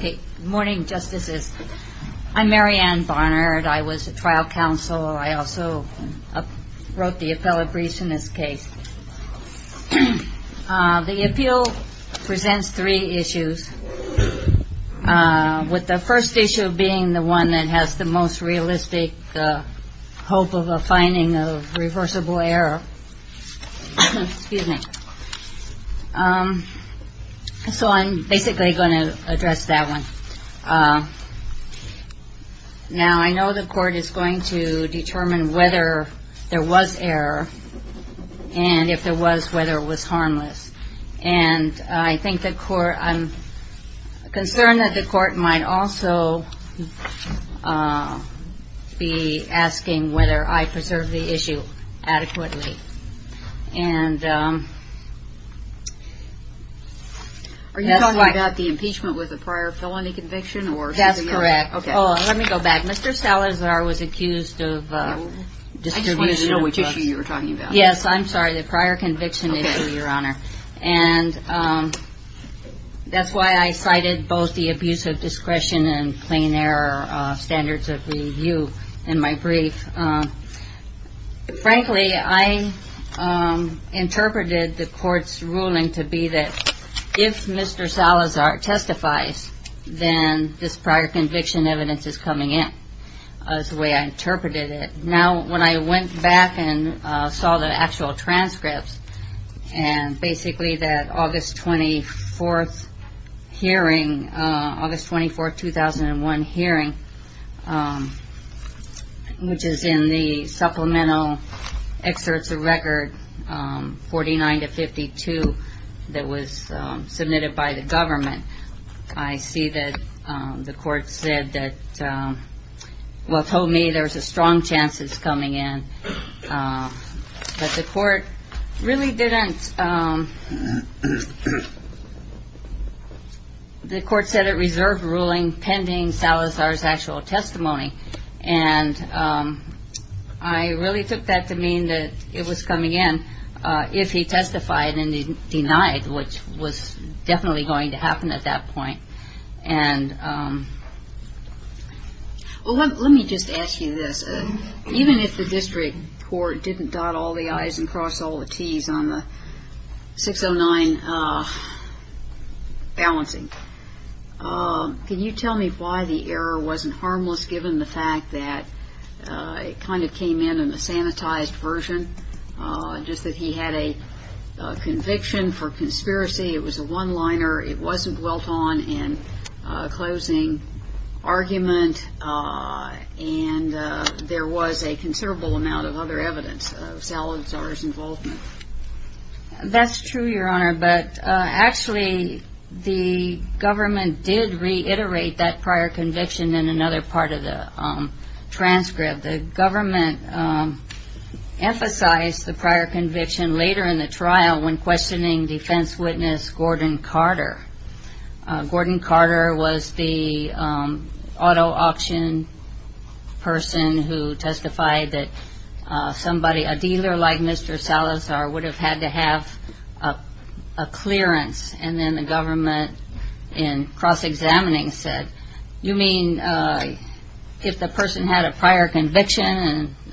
Good morning, Justices. I'm Mary Ann Barnard. I was a trial counsel. I also wrote the appellate brief in this case. The appeal presents three issues, with the first issue being the one that has the most realistic hope of a finding of reversible error. So I'm basically going to address that one. Now, I know the court is going to determine whether there was error, and if there was, whether it was harmless. I'm concerned that the court might also be concerned that there was a prior conviction. And that's why I cited both the abuse of discretion and plain error standards of review in my brief. Frankly, I interpreted the court's then this prior conviction evidence is coming in. That's the way I interpreted it. Now, when I went back and saw the actual transcripts, and basically that August 24, 2001 hearing, which is in the supplemental excerpts of record 49-52 that was submitted by the government, I see that the court said that, well, told me there's a strong chance it's coming in. But the court really didn't, the court said it reserved ruling pending Salazar's actual testimony. And I really took that to mean that it was coming in if he testified and denied, which was definitely going to happen at that point. And, well, let me just ask you this. Even if the district court didn't dot all the I's and cross all the T's on the 609 balancing, can you tell me why the error wasn't harmless given the fact that it kind of came in in a sanitized version, just that he had a conviction for conspiracy, it was a one-liner, it wasn't dwelt on in closing argument, and there was a considerable amount of other evidence of Salazar's involvement? That's true, Your Honor, but actually the government did reiterate that prior conviction in another part of the transcript. The government emphasized the prior conviction later in the trial when questioning defense witness Gordon Carter. Gordon Carter was the auto auction person who testified that somebody, a dealer like Mr. Salazar, would have had to have a clearance. And then the government in cross-examining said, you mean if the person had a prior conviction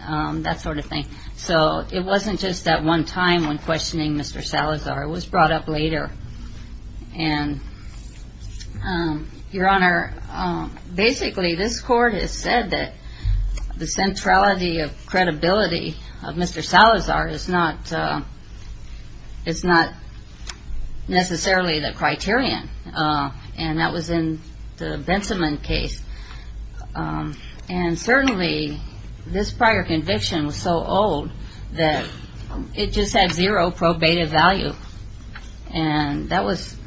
and that sort of thing. So it wasn't just that one time when questioning Mr. Salazar. It was brought up later. And, Your Honor, basically this court has said that the centrality of credibility of Mr. Salazar is not necessarily the criterion. And that was in the Bensimon case. And certainly this prior conviction was so old that it just had zero probative value. And that was,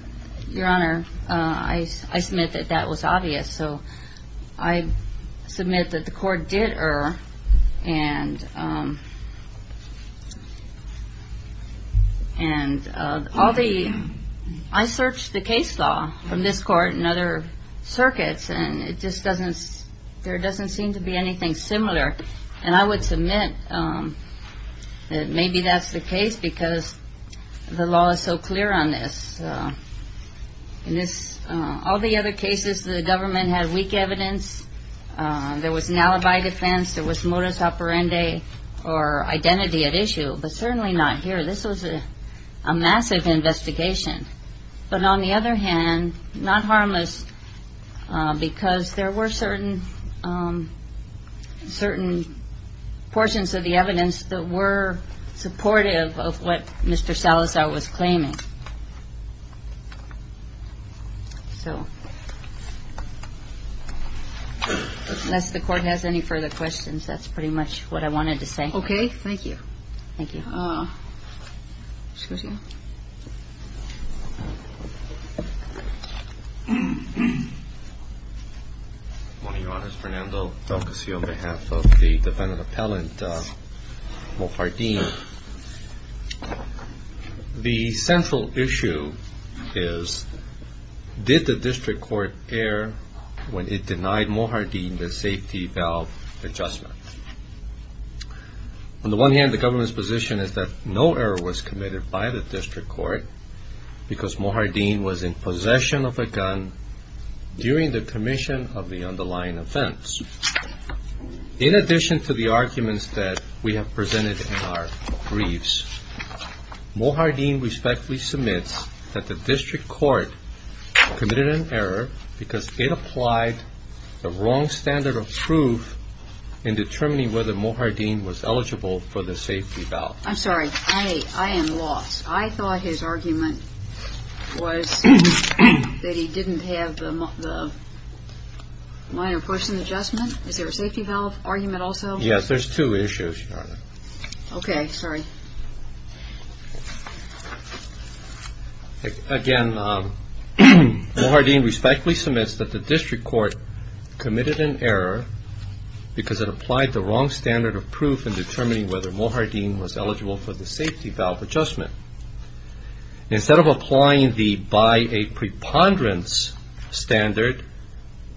Your Honor, I submit that that was obvious. So I submit that the court did err. And all the, I searched the case law from this court and other circuits, and it just doesn't, there doesn't seem to be anything similar. And I would submit that maybe that's the case because the law is so had weak evidence. There was an alibi defense. There was modus operandi or identity at issue. But certainly not here. This was a massive investigation. But on the other hand, not harmless because there were certain, certain portions of the evidence that were supportive of what Mr. Salazar was claiming. So unless the court has any further questions, that's pretty much what I wanted to say. Okay. Thank you. Thank you. Excuse me. One of Your Honors, Fernando Del Casio on behalf of the defendant appellant, Mohardin. The central issue is, did the district court err when it denied Mohardin the safety valve adjustment? On the one hand, the government's position is that no error was committed by the district court because Mohardin was in possession of a gun during the commission of the underlying offense. In addition to the arguments that we have presented in our briefs, Mohardin respectfully submits that the district court committed an error because it applied the wrong standard of proof in determining whether Mohardin was eligible for the safety valve. I'm sorry. I am lost. I thought his argument was that he didn't have the minor portion adjustment. Is there a safety valve argument also? Yes. There's two issues, Your Honor. Okay. Sorry. Again, Mohardin respectfully submits that the district court committed an error because it applied the wrong standard of proof in determining whether Mohardin was eligible for the safety valve adjustment. Instead of applying the by a preponderance standard,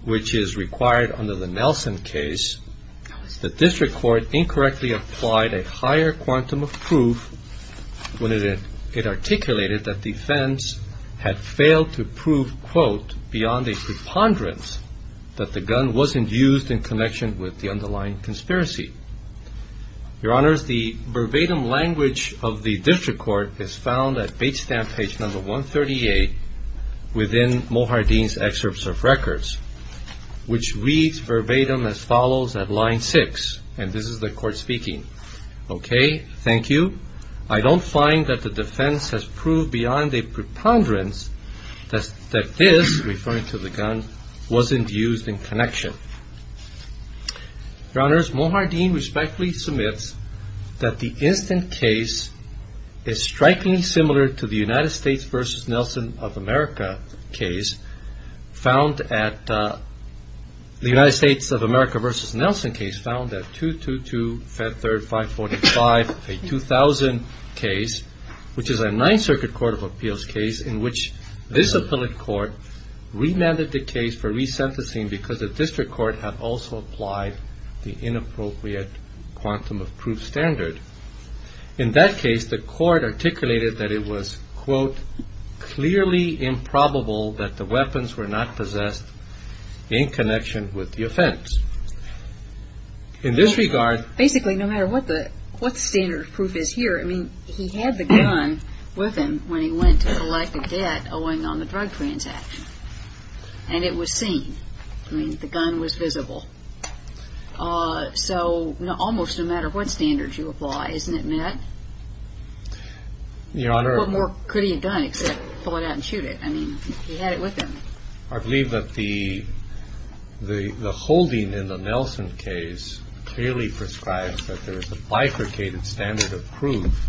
which is required under the Nelson case, the district court incorrectly applied a higher quantum of proof when it articulated that defense had failed to prove, quote, beyond a preponderance that the gun wasn't used in connection with the underlying conspiracy. Your Honors, the verbatim language of the district court is found at page 138 within Mohardin's excerpts of records, which reads verbatim as follows at line 6, and this is the court speaking. Okay. Thank you. I don't find that the defense has proved beyond a preponderance that this, referring to the gun, wasn't used in connection. Your Honors, Mohardin respectfully submits that the instant case is strikingly similar to the United States v. Nelson of America case found at the United States of America v. Nelson case found at 222 Fed Third 545, a 2000 case, which is a Ninth Circuit Court of Appeals case in which this appellate court remanded the case for resentencing because the district court had also applied the inappropriate quantum of proof standard. In that case, the court articulated that it was, quote, clearly improbable that the weapons were not possessed in connection with the offense. In this regard... Basically, no matter what the standard of proof is here, I mean, he had the gun with him when he went to collect a debt owing on the drug transaction, and it was seen. I mean, the gun was visible. So almost no matter what standard you apply, isn't it met? Your Honor... What more could he have done except pull it out and shoot it? I mean, he had it with him. I believe that the holding in the Nelson case clearly prescribes that there is a bifurcated standard of proof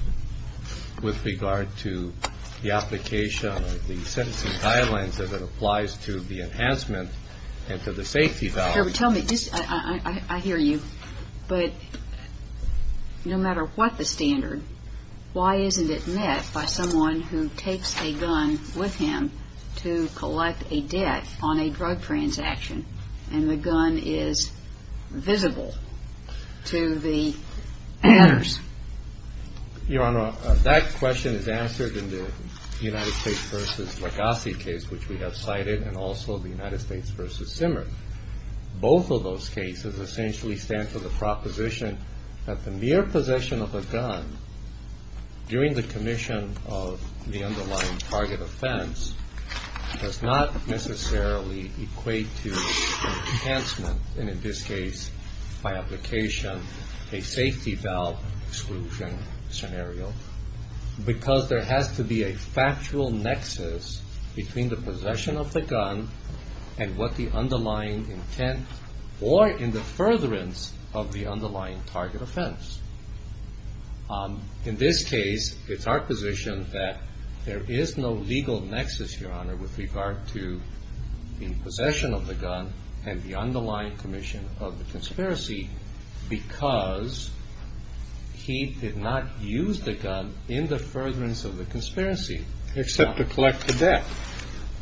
with regard to the application of the sentencing guidelines as it applies to the enhancement and to the safety... Gerber, tell me, I hear you, but no matter what the standard, why isn't it met by someone who takes a gun with him to collect a debt on a drug transaction, and the gun is visible to the owners? Your Honor, that question is answered in the United States v. Lagasse case, which we have cited, and also the United States v. Simmer. Both of those cases essentially stand for the proposition that the mere possession of a gun during the commission of the underlying target offense does not necessarily equate to enhancement, and in this case, by application, a safety valve exclusion scenario, because there has to be a factual nexus between the of the underlying target offense. In this case, it's our position that there is no legal nexus, Your Honor, with regard to the possession of the gun and the underlying commission of the conspiracy, because he did not use the gun in the furtherance of the conspiracy. Except to collect the debt.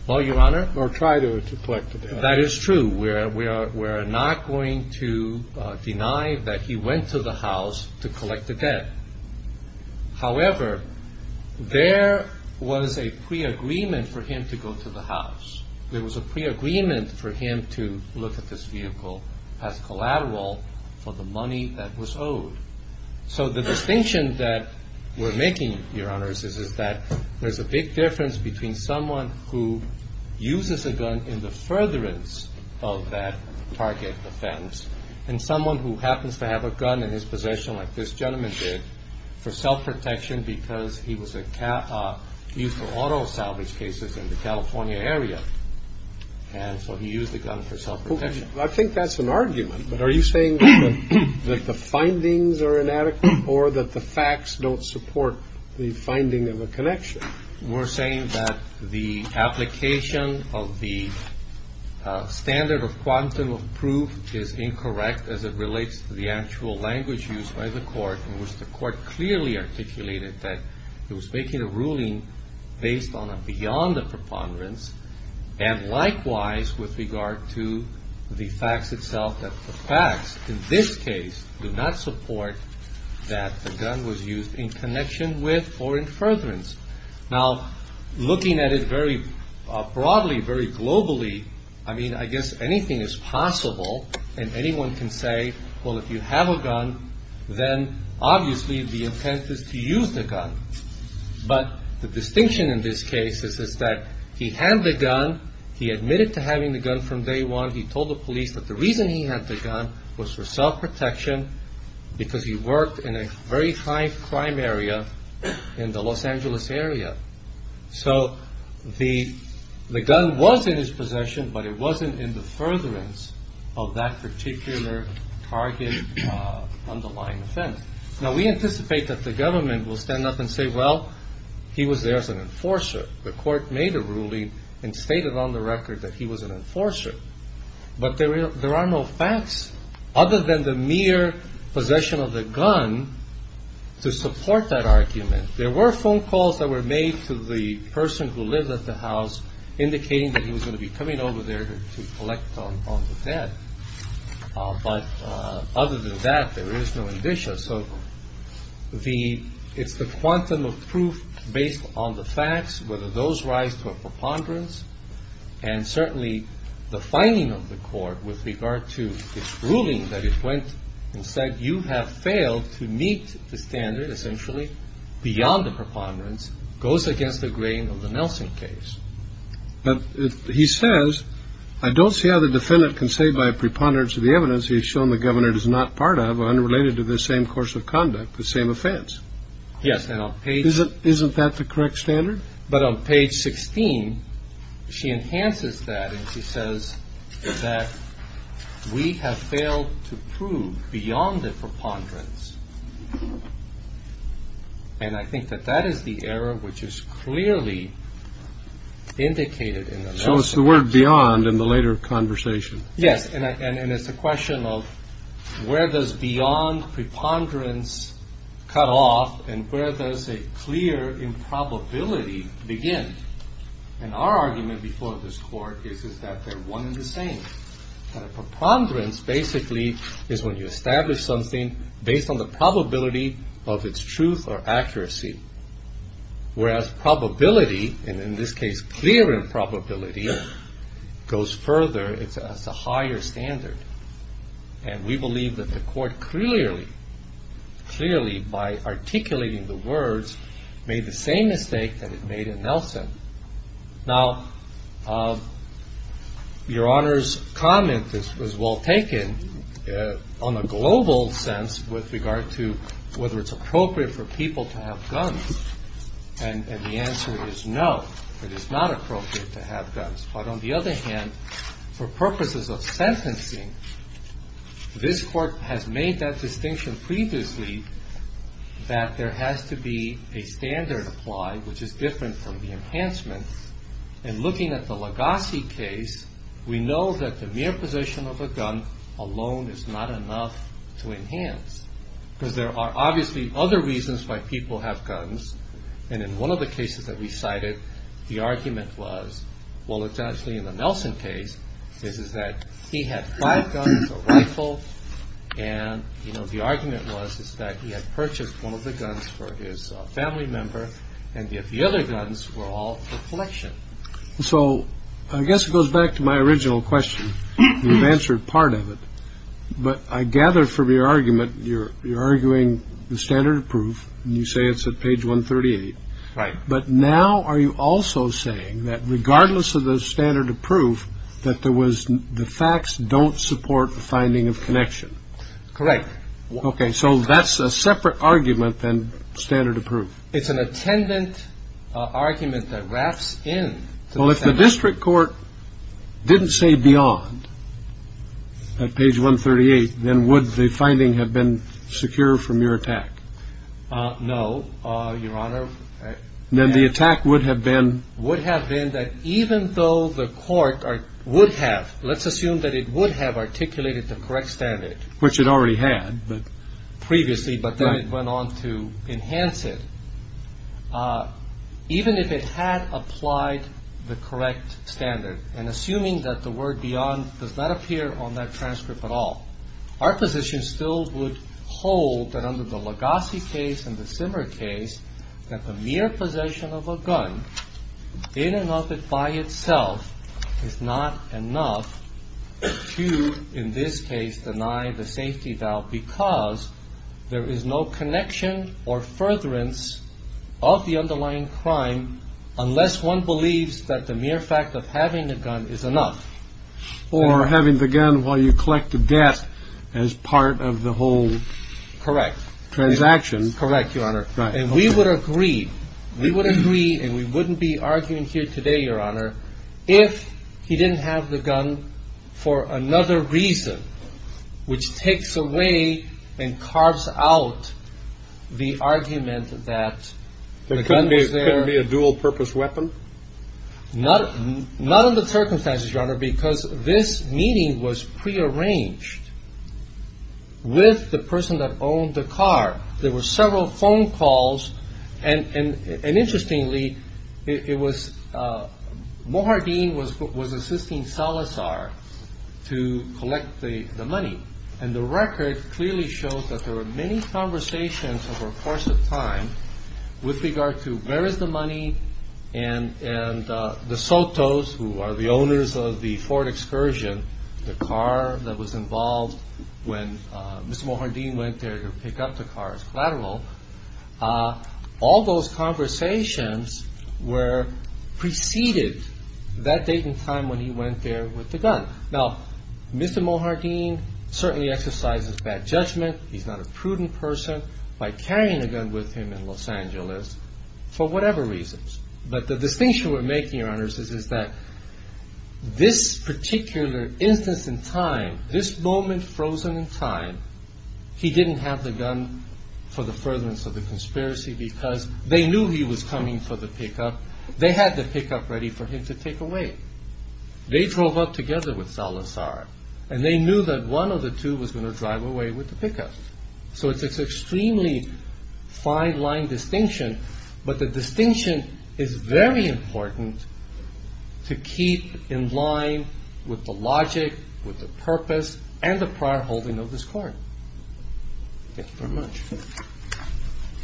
Well, Your Honor... Or try to collect the debt. That is true. We're not going to deny that he went to the house to collect the debt. However, there was a pre-agreement for him to go to the house. There was a pre-agreement for him to look at this vehicle as collateral for the money that was owed. So the distinction that we're making, Your Honors, is that there's a big difference between someone who uses a gun in the furtherance of that target offense and someone who happens to have a gun in his possession like this gentleman did for self-protection because he was used for auto salvage cases in the California area. And so he used the gun for self-protection. I think that's an argument, but are you saying that the findings are inadequate or that the facts don't support the finding of a connection? We're saying that the application of the standard of quantum of proof is incorrect as it relates to the actual language used by the court in which the court clearly articulated that it was making a ruling based on a beyond a preponderance and likewise with regard to the facts itself that the facts in this case do not support that the gun was used in connection with or in furtherance. Now, looking at it very broadly, very globally, I mean, I guess anything is possible and anyone can say, well, if you have a gun, then obviously the intent is to use the gun. But the distinction in this case is that he had the gun. He admitted to having the gun from day one. He told the police that the reason he had the gun was for self-protection because he worked in a very high crime area in the Los Angeles area. So the gun was in his possession, but it wasn't in the furtherance of that particular target underlying offense. Now, we anticipate that the government will stand up and say, well, he was there as an enforcer. The court made a ruling and stated on the record that he was an enforcer. But there are no facts other than the mere possession of the gun to support that argument. There were phone calls that were made to the person who lived at the house indicating that he was going to be coming over there to collect on the debt. But other than that, there is no indicia. So it's the quantum of proof based on the facts, whether those rise to a preponderance and certainly the finding of the court with regard to this ruling that it went and said you have failed to meet the standard essentially beyond the preponderance goes against the grain of the Nelson case. But he says, I don't see how the defendant can say by preponderance of the evidence he has shown the governor is not part of unrelated to this same course of conduct, the same offense. Yes. Isn't that the correct standard? But on page 16, she enhances that and she says that we have failed to prove beyond the preponderance. And I think that that is the error which is clearly indicated in the. So it's the word beyond in the later conversation. Yes. And it's a question of where does beyond preponderance cut off and where does a clear improbability begin? And our argument before this court is, is that they're one in the same preponderance basically is when you establish something based on the probability of its truth or accuracy, whereas probability and in this case, clear improbability goes further. It's a higher standard. And we believe that the court clearly, clearly by articulating the words made the same mistake that it made in Nelson. Now, Your Honor's comment is as well taken on a global sense with regard to whether it's appropriate for people to have guns. And the answer is no, it is not appropriate to have guns. But on the other hand, for purposes of sentencing, this court has made that distinction previously that there has to be a standard applied, which is different from the enhancement. And looking at the Legassi case, we know that the mere possession of a gun alone is not enough to enhance because there are obviously other reasons why people have guns. And in one of the cases that we cited, the argument was, well, it's actually in the Nelson case, is that he had five guns, a rifle. And, you know, the argument was, is that he had purchased one of the guns for his family member. And if the other guns were all for collection. So I guess it goes back to my original question. You've answered part of it. But I gather from your argument, you're arguing the standard of proof. You say it's at page 138. Right. But now are you also saying that regardless of the standard of proof, that there was the facts don't support the finding of connection? Correct. Okay. So that's a separate argument than standard of proof. It's an attendant argument that wraps in. Well, if the district court didn't say beyond page 138, then would the finding have been secure from your attack? No, Your Honor. Then the attack would have been. Would have been that even though the court would have, let's assume that it would have articulated the correct standard, which it already had, but previously, but then it went on to enhance it. Even if it had applied the correct standard and assuming that the word beyond does not appear on that transcript at all, our position still would hold that under the Legassi case and the Simmer case, that the mere possession of a gun in and of it by itself is not enough to, in this case, deny the safety valve because there is no connection or furtherance of the underlying crime unless one believes that the mere fact of having a gun is enough. Or having the gun while you collect the debt as part of the whole. Correct. Transaction. Correct, Your Honor. And we would agree. We would agree and we wouldn't be arguing here today, Your Honor, that he didn't have the gun for another reason, which takes away and carves out the argument that the gun was there. It couldn't be a dual purpose weapon? Not in the circumstances, Your Honor, because this meeting was prearranged with the person that owned the car. There was assisting Salazar to collect the money. And the record clearly shows that there were many conversations over a course of time with regard to where is the money and the Sotos, who are the owners of the Ford Excursion, the car that was involved when Mr. Mohandeen went there to pick up the car as collateral. All those conversations were preceded that date and time when he went there with the gun. Now, Mr. Mohandeen certainly exercises bad judgment. He's not a prudent person by carrying a gun with him in Los Angeles for whatever reasons. But the distinction we're making, Your Honors, is that this particular instance in time, this moment frozen in time, he didn't have the gun for the furtherance of the conspiracy because they knew he was coming for the pickup. They had the pickup ready for him to take away. They drove up together with Salazar, and they knew that one of the two was going to drive away with the pickup. So it's an extremely fine-lined distinction, but the logic, with the purpose, and the prior holding of this car. Thank you very much.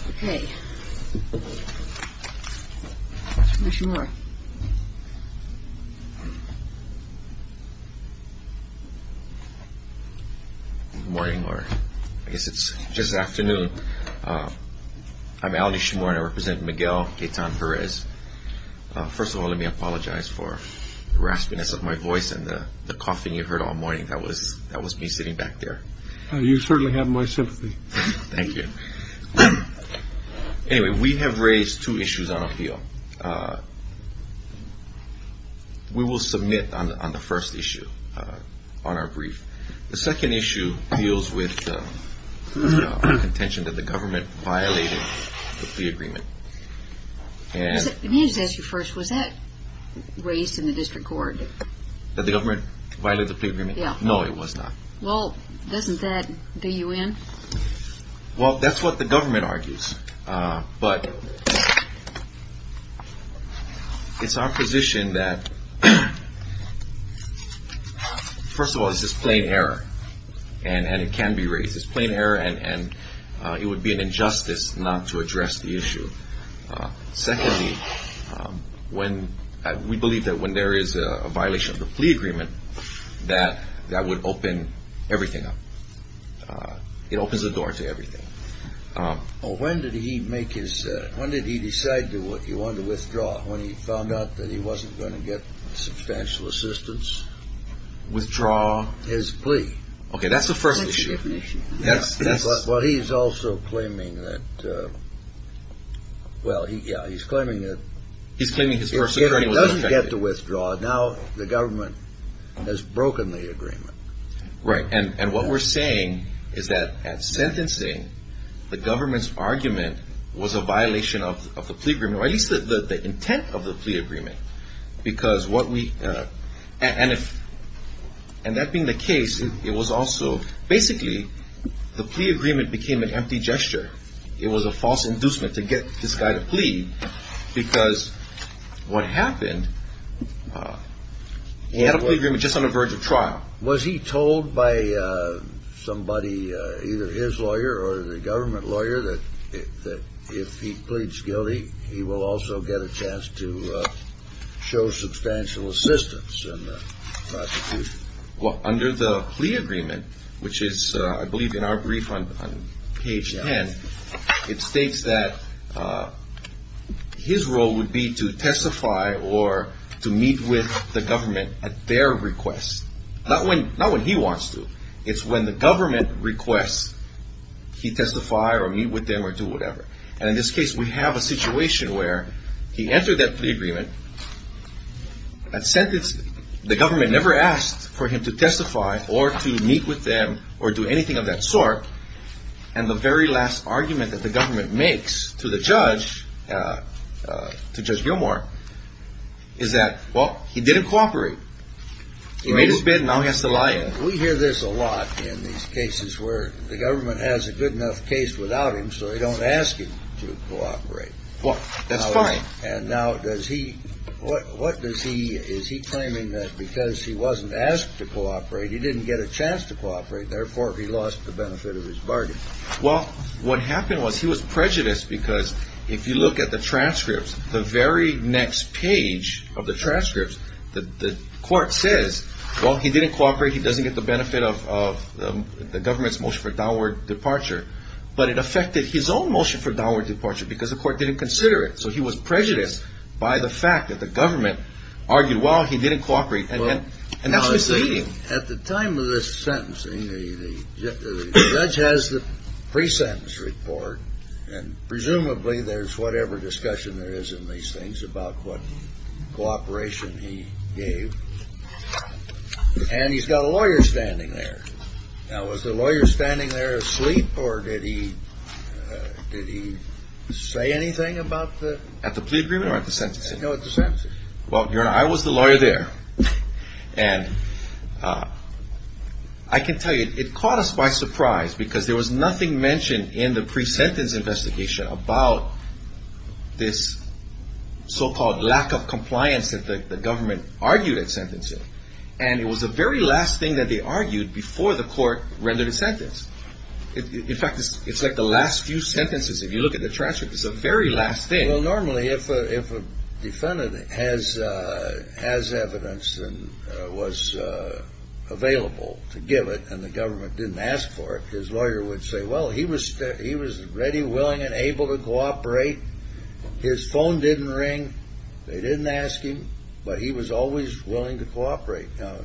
Okay. Mr. Shimori. Good morning, Laura. I guess it's just after noon. I'm Aldi Shimori. I represent Miguel Quetan-Jerez. First of all, let me apologize for the raspiness of my voice and the coughing you heard all morning. That was me sitting back there. You certainly have my sympathy. Thank you. Anyway, we have raised two issues on appeal. We will submit on the first issue on our brief. The second issue deals with the contention that the government violated the plea agreement. Let me just ask you first. Was that raised in the district court? That the government violated the plea agreement? Yeah. No, it was not. Well, doesn't that do you in? Well, that's what the government argues. But it's our position that, first of all, this is plain error, and it can be raised as plain error, and it would be an injustice not to address the issue. Secondly, we believe that when there is a violation of the plea agreement, that that would open everything up. It opens the door to everything. Well, when did he decide that he wanted to withdraw, when he found out that he wasn't going to get substantial assistance? Withdraw? His plea. Okay, that's the first issue. Well, he's also claiming that, well, yeah, he's claiming that if he doesn't get to withdraw, now the government has broken the agreement. Right. And what we're saying is that at sentencing, the government's argument was a violation of the plea agreement, or at least the intent of the plea agreement. And that being the case, it was also basically the plea agreement became an empty gesture. It was a false inducement to get this guy to plead, because what happened, he had a plea agreement just on the verge of trial. Was he told by somebody, either his lawyer or the government lawyer, that if he pleads guilty, he will also get a chance to show substantial assistance in the prosecution? Well, under the plea agreement, which is, I believe, in our brief on page 10, it states that his role would be to testify or to meet with the government at their request. Not when he wants to. It's when the government requests he testify or meet with them or do whatever. And in this case, we have a situation where he entered that plea agreement at sentencing. The government never asked for him to testify or to meet with them or do anything of that sort. And the very last argument that the government makes to the judge, to Judge Gilmore, is that, well, he didn't cooperate. He made his bid and now he has to lie in it. We hear this a lot in these cases where the government has a good enough case without him, so they don't ask him to cooperate. Well, that's fine. And now does he, what does he, is he claiming that because he wasn't asked to cooperate, he didn't get a chance to cooperate, therefore he lost the benefit of his bargain? Well, what happened was he was prejudiced because if you look at the transcripts, the very next page of the transcripts, the court says, well, he didn't cooperate. He doesn't get the benefit of the government's motion for downward departure. But it affected his own motion for downward departure because the court didn't consider it. So he was prejudiced by the fact that the government argued, well, he didn't cooperate. And that's misleading. At the time of this sentencing, the judge has the pre-sentence report, and presumably there's whatever discussion there is in these things about what cooperation he gave. And he's got a lawyer standing there. Now, was the lawyer standing there asleep or did he say anything about the? At the plea agreement or at the sentencing? No, at the sentencing. Well, Your Honor, I was the lawyer there. And I can tell you, it caught us by surprise because there was nothing mentioned in the pre-sentence investigation about this so-called lack of compliance that the government argued at sentencing. And it was the very last thing that they argued before the court rendered a sentence. In fact, it's like the last few sentences. If you look at the transcript, it's the very last thing. Well, normally if a defendant has evidence and was available to give it and the government didn't ask for it, his lawyer would say, well, he was ready, willing, and able to cooperate. His phone didn't ring. They didn't ask him, but he was always willing to cooperate. Now,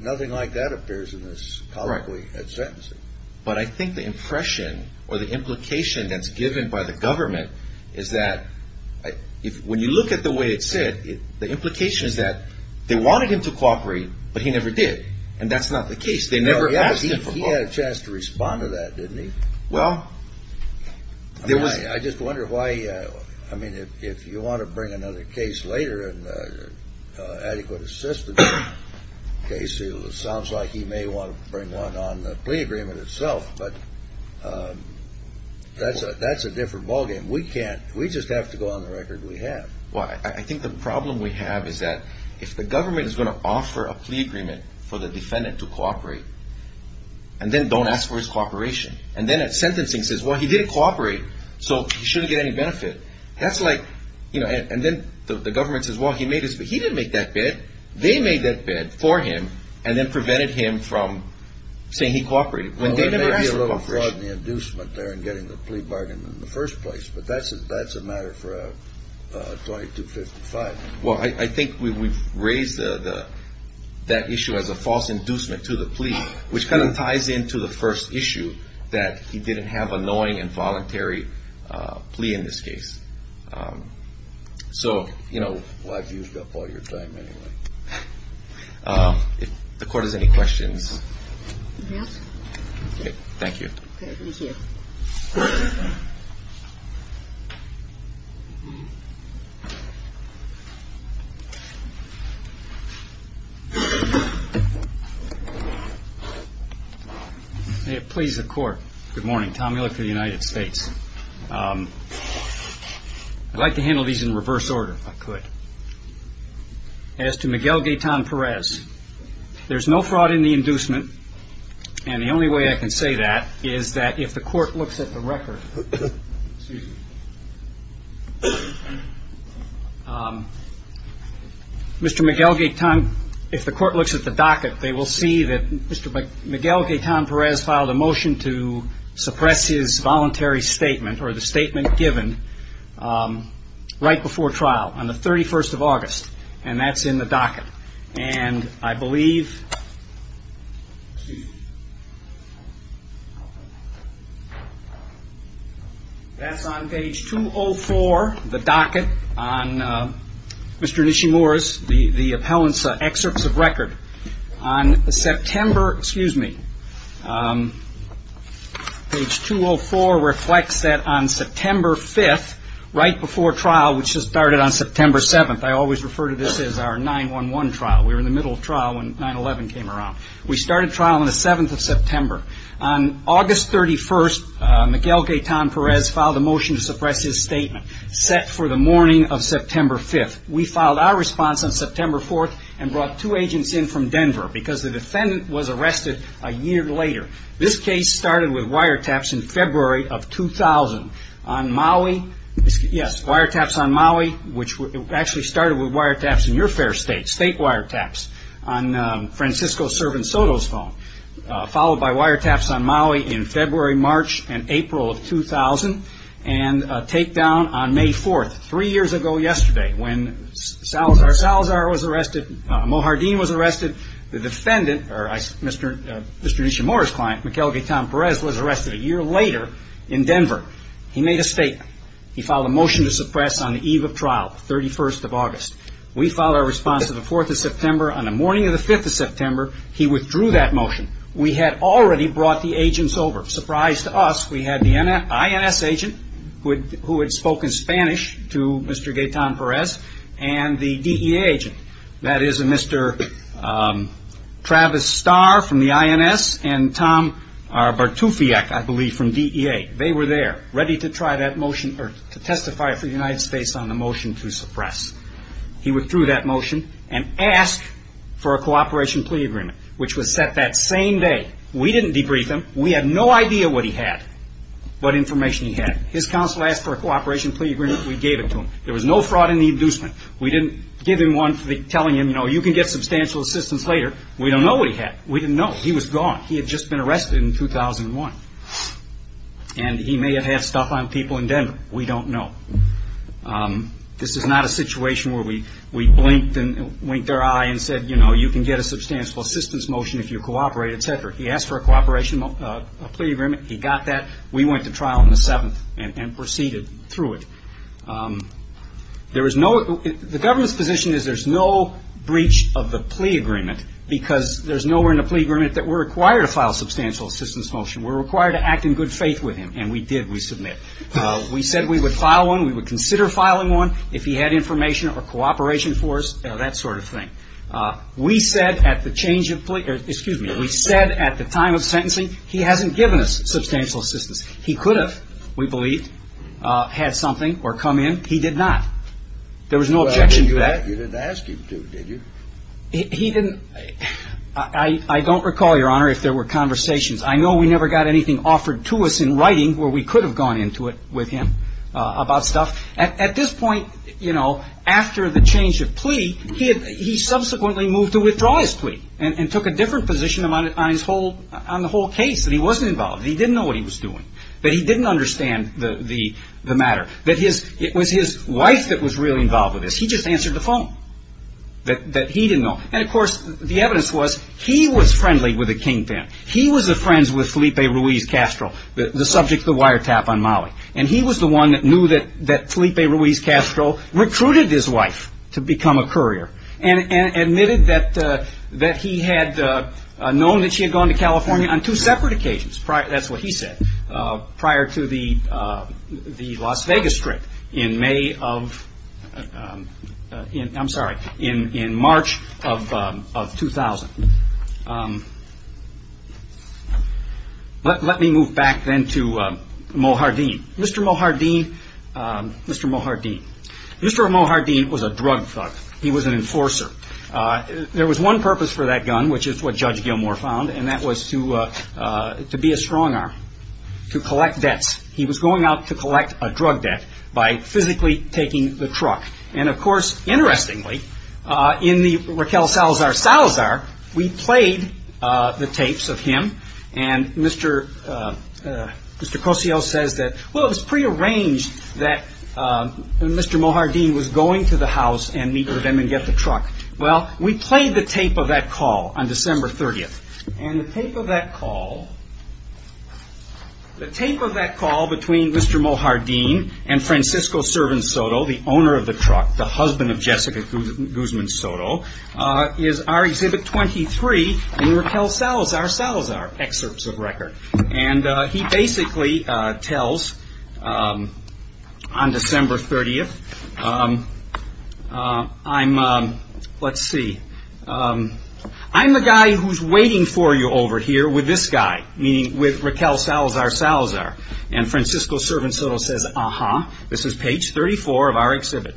nothing like that appears in this publicly at sentencing. But I think the impression or the implication that's given by the government is that when you look at the way it's said, the implication is that they wanted him to cooperate, but he never did. And that's not the case. They never asked him for cooperation. He had a chance to respond to that, didn't he? Well, there was. I just wonder why, I mean, if you want to bring another case later, an adequate assistance case, it sounds like he may want to bring one on the plea agreement itself, but that's a different ballgame. We can't. We just have to go on the record we have. Well, I think the problem we have is that if the government is going to offer a plea agreement for the defendant to cooperate and then don't ask for his cooperation, and then at sentencing says, well, he didn't cooperate, so he shouldn't get any benefit, that's like, you know, and then the government says, well, he made his bid. He didn't make that bid. They made that bid for him and then prevented him from saying he cooperated. Well, there may be a little fraud in the inducement there in getting the plea bargain in the first place, but that's a matter for a 2255. Well, I think we've raised that issue as a false inducement to the plea, which kind of ties into the first issue that he didn't have a knowing and voluntary plea in this case. So, you know, I've used up all your time anyway. If the court has any questions. Thank you. Please, the court. Good morning. Tom Miller for the United States. I'd like to handle these in reverse order if I could. As to Miguel Gaetan Perez, there's no fraud in the inducement, and the only way I can say that is that if the court looks at the record, Mr. Miguel Gaetan, if the court looks at the docket, they will see that Mr. Miguel Gaetan Perez filed a motion to suppress his voluntary statement or the statement given right before trial on the 31st of August, and that's in the docket. And I believe that's on page 204 of the docket on Mr. Nishimura's, the appellant's excerpts of record. On September, excuse me, page 204 reflects that on September 5th, right before trial, which just started on September 7th, I always refer to this as our 9-1-1 trial. We were in the middle of trial when 9-11 came around. We started trial on the 7th of September. On August 31st, Miguel Gaetan Perez filed a motion to suppress his statement set for the morning of September 5th. We filed our response on September 4th and brought two agents in from Denver because the defendant was arrested a year later. This case started with wiretaps in February of 2000 on Maui. Yes, wiretaps on Maui, which actually started with wiretaps in your fair state, state wiretaps on Francisco's servant Soto's phone, followed by wiretaps on Maui in February, March, and April of 2000, and a takedown on May 4th, three years ago yesterday, when Salazar was arrested, Mojardin was arrested. The defendant, Mr. Ishimura's client, Miguel Gaetan Perez, was arrested a year later in Denver. He made a statement. He filed a motion to suppress on the eve of trial, the 31st of August. We filed our response on the 4th of September. On the morning of the 5th of September, he withdrew that motion. We had already brought the agents over. Surprise to us, we had the INS agent who had spoken Spanish to Mr. Gaetan Perez and the DEA agent, that is, Mr. Travis Starr from the INS and Tom Bartufiak, I believe, from DEA. They were there, ready to try that motion or to testify for the United States on the motion to suppress. He withdrew that motion and asked for a cooperation plea agreement, which was set that same day. We didn't debrief him. We had no idea what he had, what information he had. His counsel asked for a cooperation plea agreement. We gave it to him. There was no fraud in the inducement. We didn't give him one telling him, you know, you can get substantial assistance later. We don't know what he had. We didn't know. He was gone. He had just been arrested in 2001, and he may have had stuff on people in Denver. We don't know. This is not a situation where we blinked our eye and said, you know, you can get a substantial assistance motion if you cooperate, et cetera. He asked for a cooperation plea agreement. He got that. We went to trial on the 7th and proceeded through it. There was no ‑‑ the government's position is there's no breach of the plea agreement because there's nowhere in the plea agreement that we're required to file a substantial assistance motion. We're required to act in good faith with him, and we did. We submit. We said we would file one. We would consider filing one if he had information or cooperation for us, that sort of thing. We said at the change of ‑‑ excuse me. We said at the time of sentencing he hasn't given us substantial assistance. He could have, we believe, had something or come in. He did not. There was no objection to that. You didn't ask him to, did you? He didn't ‑‑ I don't recall, Your Honor, if there were conversations. I know we never got anything offered to us in writing where we could have gone into it with him about stuff. At this point, you know, after the change of plea, he subsequently moved to withdraw his plea and took a different position on the whole case, that he wasn't involved. He didn't know what he was doing, that he didn't understand the matter, that it was his wife that was really involved with this. He just answered the phone, that he didn't know. And, of course, the evidence was he was friendly with the kingpin. He was a friend with Felipe Ruiz Castro, the subject of the wiretap on Maui. And he was the one that knew that Felipe Ruiz Castro recruited his wife to become a courier and admitted that he had known that she had gone to California on two separate occasions. That's what he said prior to the Las Vegas trip in May of ‑‑ I'm sorry, in March of 2000. Let me move back then to Mohardin. Mr. Mohardin, Mr. Mohardin. Mr. Mohardin was a drug thug. He was an enforcer. There was one purpose for that gun, which is what Judge Gilmore found, and that was to be a strong arm, to collect debts. He was going out to collect a drug debt by physically taking the truck. And, of course, interestingly, in the Raquel Salazar Salazar, we played the tapes of him. And Mr. Cossio says that, well, it was prearranged that Mr. Mohardin was going to the house and meet with him and get the truck. Well, we played the tape of that call on December 30th. And the tape of that call, the tape of that call between Mr. Mohardin and Francisco Servan Soto, the owner of the truck, the husband of Jessica Guzman Soto, is our Exhibit 23 in Raquel Salazar Salazar, Excerpts of Record. And he basically tells on December 30th, I'm, let's see, I'm the guy who's waiting for you over here with this guy, meaning with Raquel Salazar Salazar. And Francisco Servan Soto says, uh-huh, this is page 34 of our Exhibit,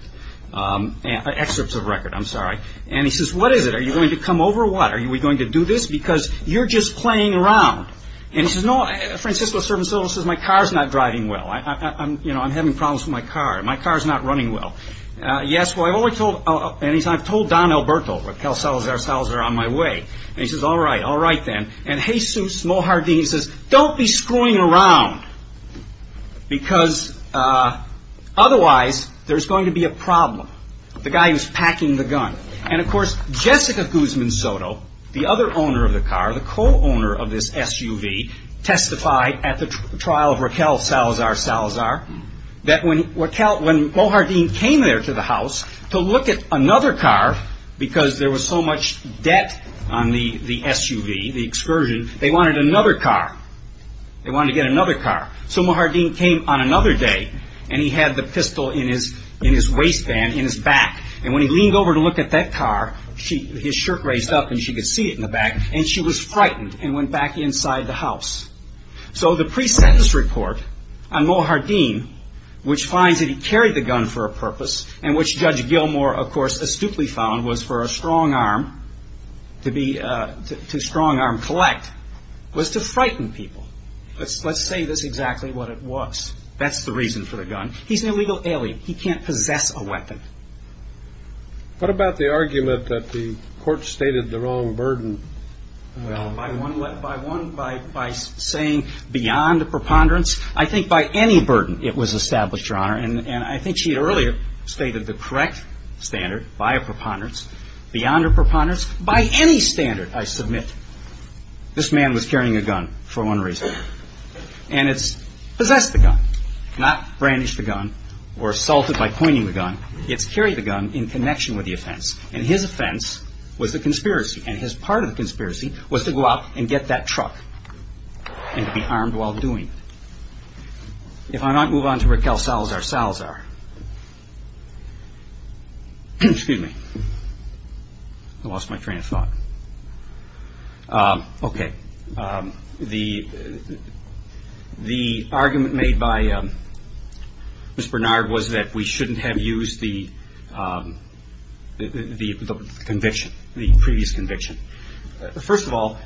Excerpts of Record, I'm sorry. And he says, what is it? Are you going to come over or what? Are we going to do this? Because you're just playing around. And Francisco Servan Soto says, my car's not driving well. I'm having problems with my car. My car's not running well. Yes, well, I've told Don Alberto, Raquel Salazar Salazar, on my way. And he says, all right, all right then. And Jesus Mojardin says, don't be screwing around because otherwise there's going to be a problem. The guy who's packing the gun. And of course, Jessica Guzman Soto, the other owner of the car, the co-owner of this SUV, testified at the trial of Raquel Salazar Salazar that when Raquel, when Mojardin came there to the house to look at another car because there was so much debt on the SUV, the excursion, they wanted another car. They wanted to get another car. So Mojardin came on another day and he had the pistol in his waistband, in his back. And when he leaned over to look at that car, his shirt raised up and she could see it in the back. And she was frightened and went back inside the house. So the pre-sentence report on Mojardin, which finds that he carried the gun for a purpose and which Judge Gilmore, of course, astutely found was for a strong arm to be, to strong arm collect, was to frighten people. Let's say this exactly what it was. That's the reason for the gun. He's an illegal alien. He can't possess a weapon. What about the argument that the court stated the wrong burden? Well, by one, by saying beyond preponderance, I think by any burden it was established, Your Honor. And I think she had earlier stated the correct standard, by a preponderance, beyond a preponderance, by any standard, I submit, this man was carrying a gun for one reason. And it's possessed the gun, not brandished the gun or assaulted by pointing the gun. It's carried the gun in connection with the offense. And his offense was the conspiracy. And his part of the conspiracy was to go out and get that truck and to be armed while doing it. If I might move on to Raquel Salazar. Salazar. Excuse me. I lost my train of thought. Okay. The argument made by Ms. Bernard was that we shouldn't have used the conviction, the previous conviction. First of all,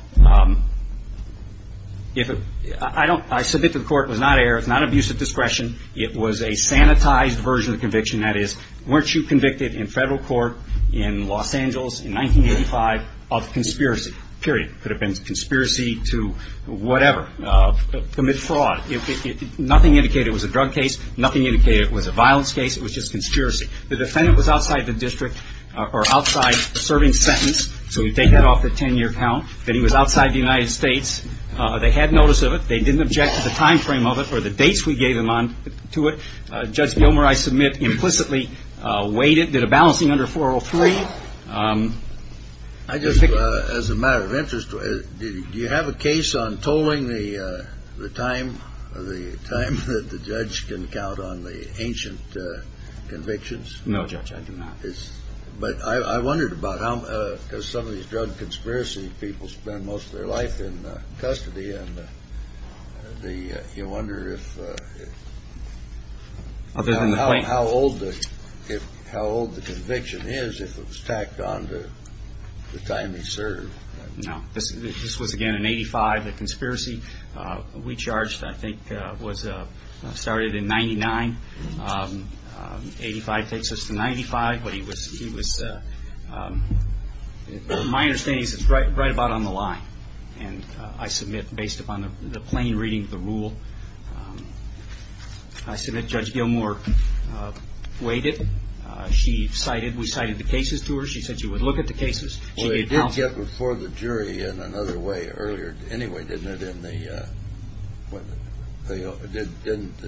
I submit to the court it was not an error, it was not an abuse of discretion. It was a sanitized version of the conviction. That is, weren't you convicted in federal court in Los Angeles in 1985 of conspiracy, period. It could have been conspiracy to whatever, commit fraud. Nothing indicated it was a drug case. Nothing indicated it was a violence case. It was just conspiracy. The defendant was outside the district or outside serving sentence. So we take that off the 10-year count. That he was outside the United States. They had notice of it. They didn't object to the timeframe of it or the dates we gave them on to it. Judge Gilmer, I submit, implicitly weighed it, did a balancing under 403. I just, as a matter of interest, do you have a case on tolling the time that the judge can count on the ancient convictions? No, Judge, I do not. But I wondered about how, because some of these drug conspiracy people spend most of their life in custody, and you wonder how old the conviction is if it was tacked on to the time he served. No. This was, again, in 1985. The conspiracy we charged, I think, was started in 99. 85 takes us to 95. But he was, my understanding is it's right about on the line. And I submit, based upon the plain reading of the rule, I submit Judge Gilmer weighed it. She cited, we cited the cases to her. She said she would look at the cases. Well, it did get before the jury in another way earlier. Anyway, didn't the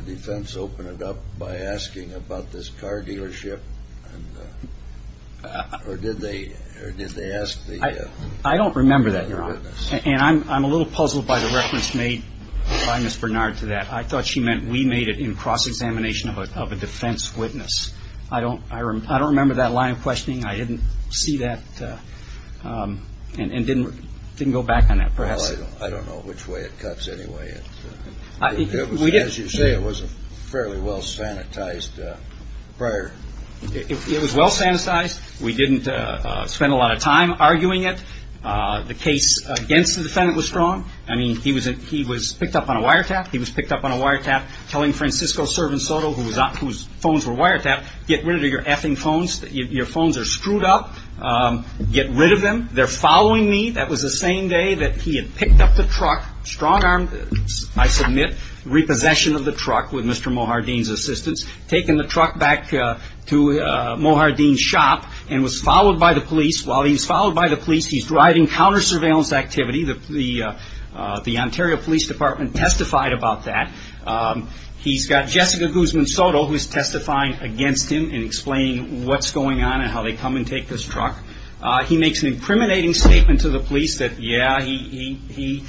defense open it up by asking about this car dealership? Or did they ask the witness? I don't remember that, Your Honor. And I'm a little puzzled by the reference made by Ms. Bernard to that. I thought she meant we made it in cross-examination of a defense witness. I don't remember that line of questioning. I didn't see that and didn't go back on that. Well, I don't know which way it cuts anyway. As you say, it was a fairly well sanitized prior. It was well sanitized. We didn't spend a lot of time arguing it. The case against the defendant was strong. I mean, he was picked up on a wiretap. He was picked up on a wiretap telling Francisco Servan Soto, whose phones were wiretapped, get rid of your effing phones. Your phones are screwed up. Get rid of them. They're following me. That was the same day that he had picked up the truck, strong-armed, I submit, repossession of the truck with Mr. Mohardeen's assistance, taken the truck back to Mohardeen's shop and was followed by the police. While he was followed by the police, he's driving counter-surveillance activity. The Ontario Police Department testified about that. He's got Jessica Guzman Soto, who's testifying against him and explaining what's going on and how they come and take his truck. He makes an incriminating statement to the police that, yeah, he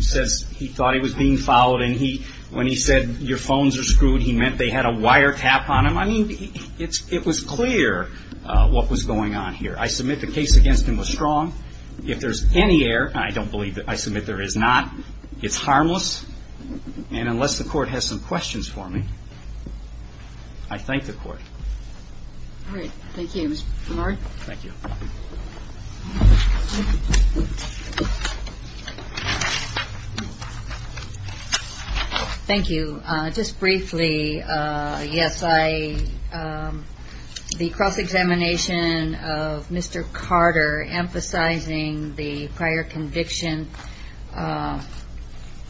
says he thought he was being followed and when he said, your phones are screwed, he meant they had a wiretap on him. I mean, it was clear what was going on here. I submit the case against him was strong. If there's any error, and I don't believe it, I submit there is not, it's harmless. And unless the court has some questions for me, I thank the court. All right. Thank you, Mr. Mohardeen. Thank you. Thank you. Just briefly, yes, the cross-examination of Mr. Carter emphasizing the prior conviction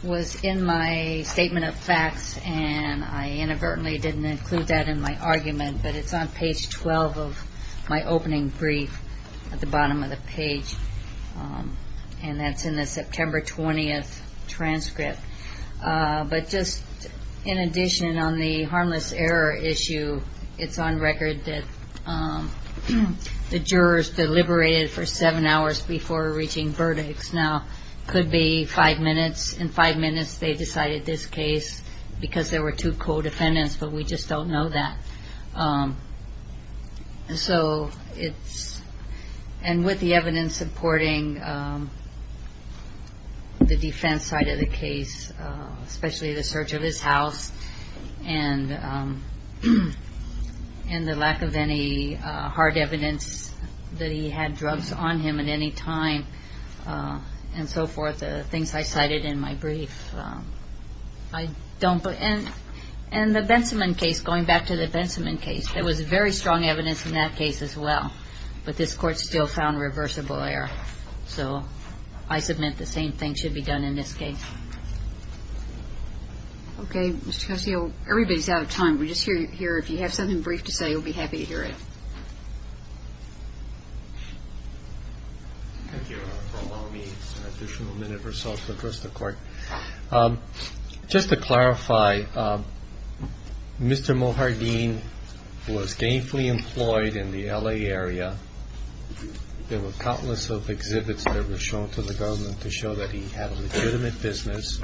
was in my statement of facts and I inadvertently didn't include that in my argument, but it's on page 12 of my opening brief at the bottom of the page, and that's in the September 20th transcript. But just in addition, on the harmless error issue, it's on record that the jurors deliberated for seven hours before reaching verdicts. Now, it could be five minutes. In five minutes, they decided this case because there were two co-defendants, but we just don't know that. So it's, and with the evidence supporting the defense side of the case, especially the search of his house and the lack of any hard evidence that he had drugs on him at any time, and so forth, the things I cited in my brief, I don't. And the Bensimon case, going back to the Bensimon case, there was very strong evidence in that case as well, but this court still found reversible error. So I submit the same thing should be done in this case. Okay. Mr. Castillo, everybody's out of time. We just hear if you have something brief to say, we'll be happy to hear it. Thank you for allowing me an additional minute or so to address the court. Just to clarify, Mr. Mojardin was gainfully employed in the L.A. area. There were countless exhibits that were shown to the government to show that he had a legitimate business.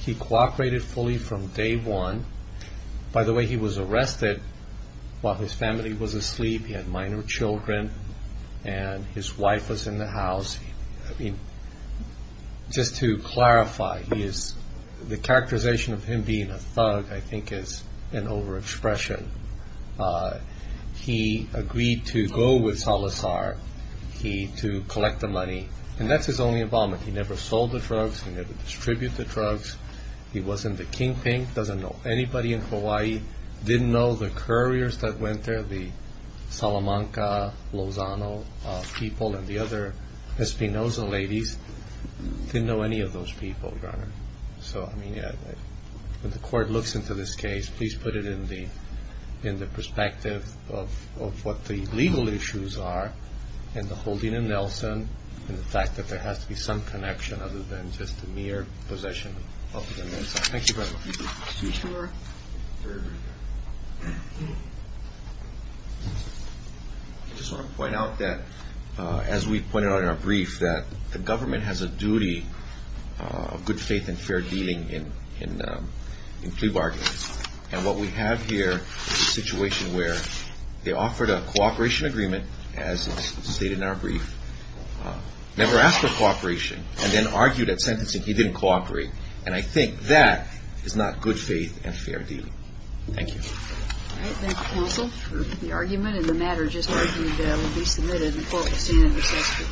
He cooperated fully from day one. By the way, he was arrested while his family was asleep. He had minor children, and his wife was in the house. Just to clarify, the characterization of him being a thug I think is an overexpression. He agreed to go with Salazar to collect the money, and that's his only involvement. He never sold the drugs. He never distributed the drugs. He wasn't the kingpin. Doesn't know anybody in Hawaii. Didn't know the couriers that went there, the Salamanca, Lozano people, and the other Espinoza ladies. Didn't know any of those people, Your Honor. So, I mean, when the court looks into this case, please put it in the perspective of what the legal issues are and the holding of Nelson and the fact that there has to be some connection other than just the mere possession of the Nelson. Thank you, Your Honor. I just want to point out that, as we pointed out in our brief, that the government has a duty of good faith and fair dealing in plea bargains. And what we have here is a situation where they offered a cooperation agreement, as stated in our brief, never asked for cooperation, and then argued at sentencing he didn't cooperate. And I think that is not good faith and fair dealing. Thank you. All right. Thank you. Thank you. Thank you. Thank you. Thank you. Thank you. Thank you. Thank you. Thank you. Thank you. Thank you. Thank you.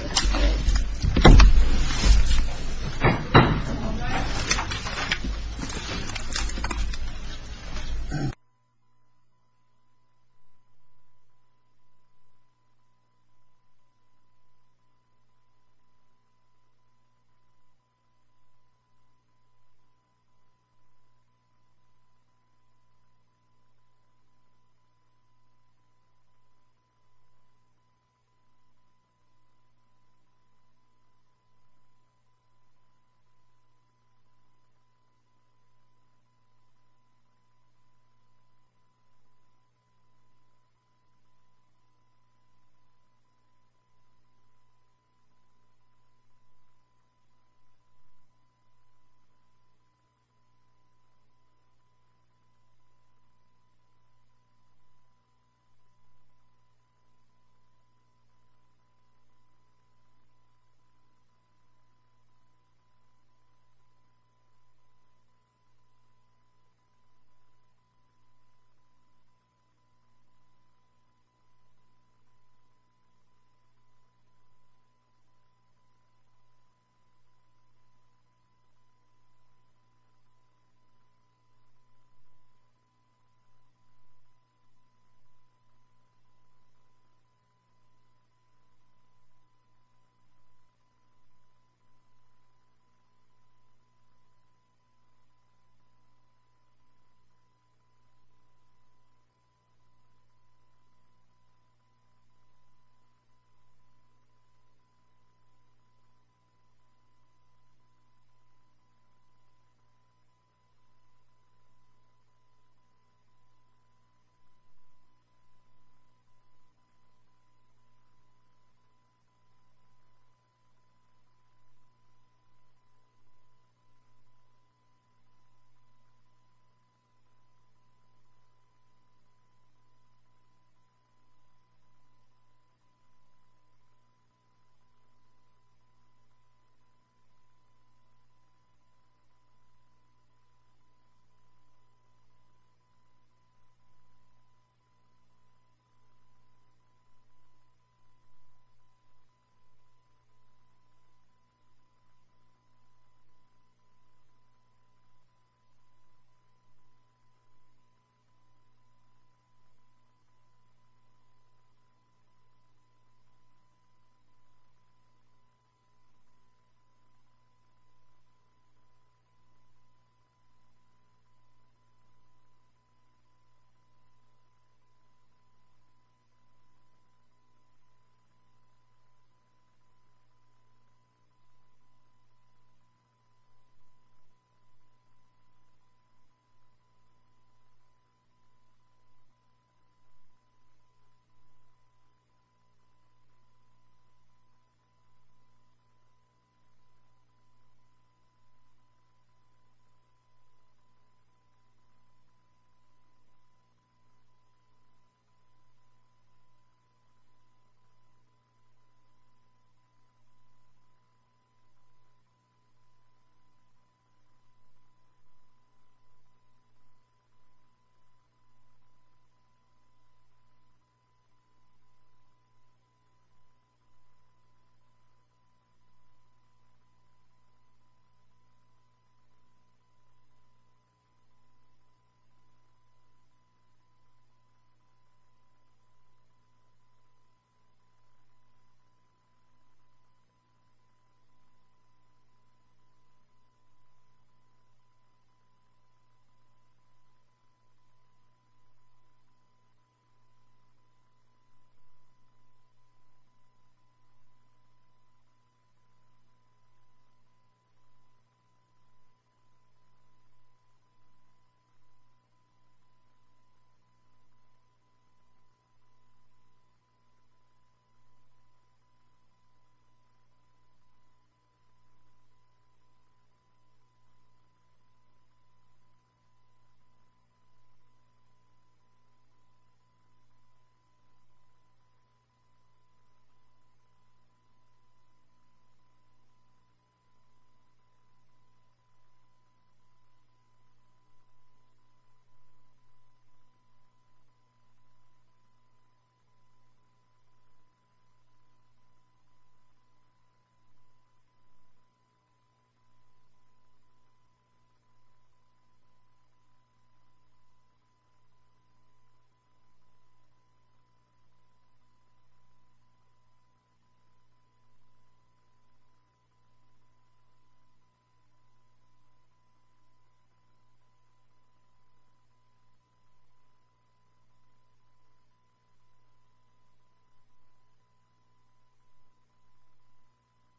Thank you. Thank you.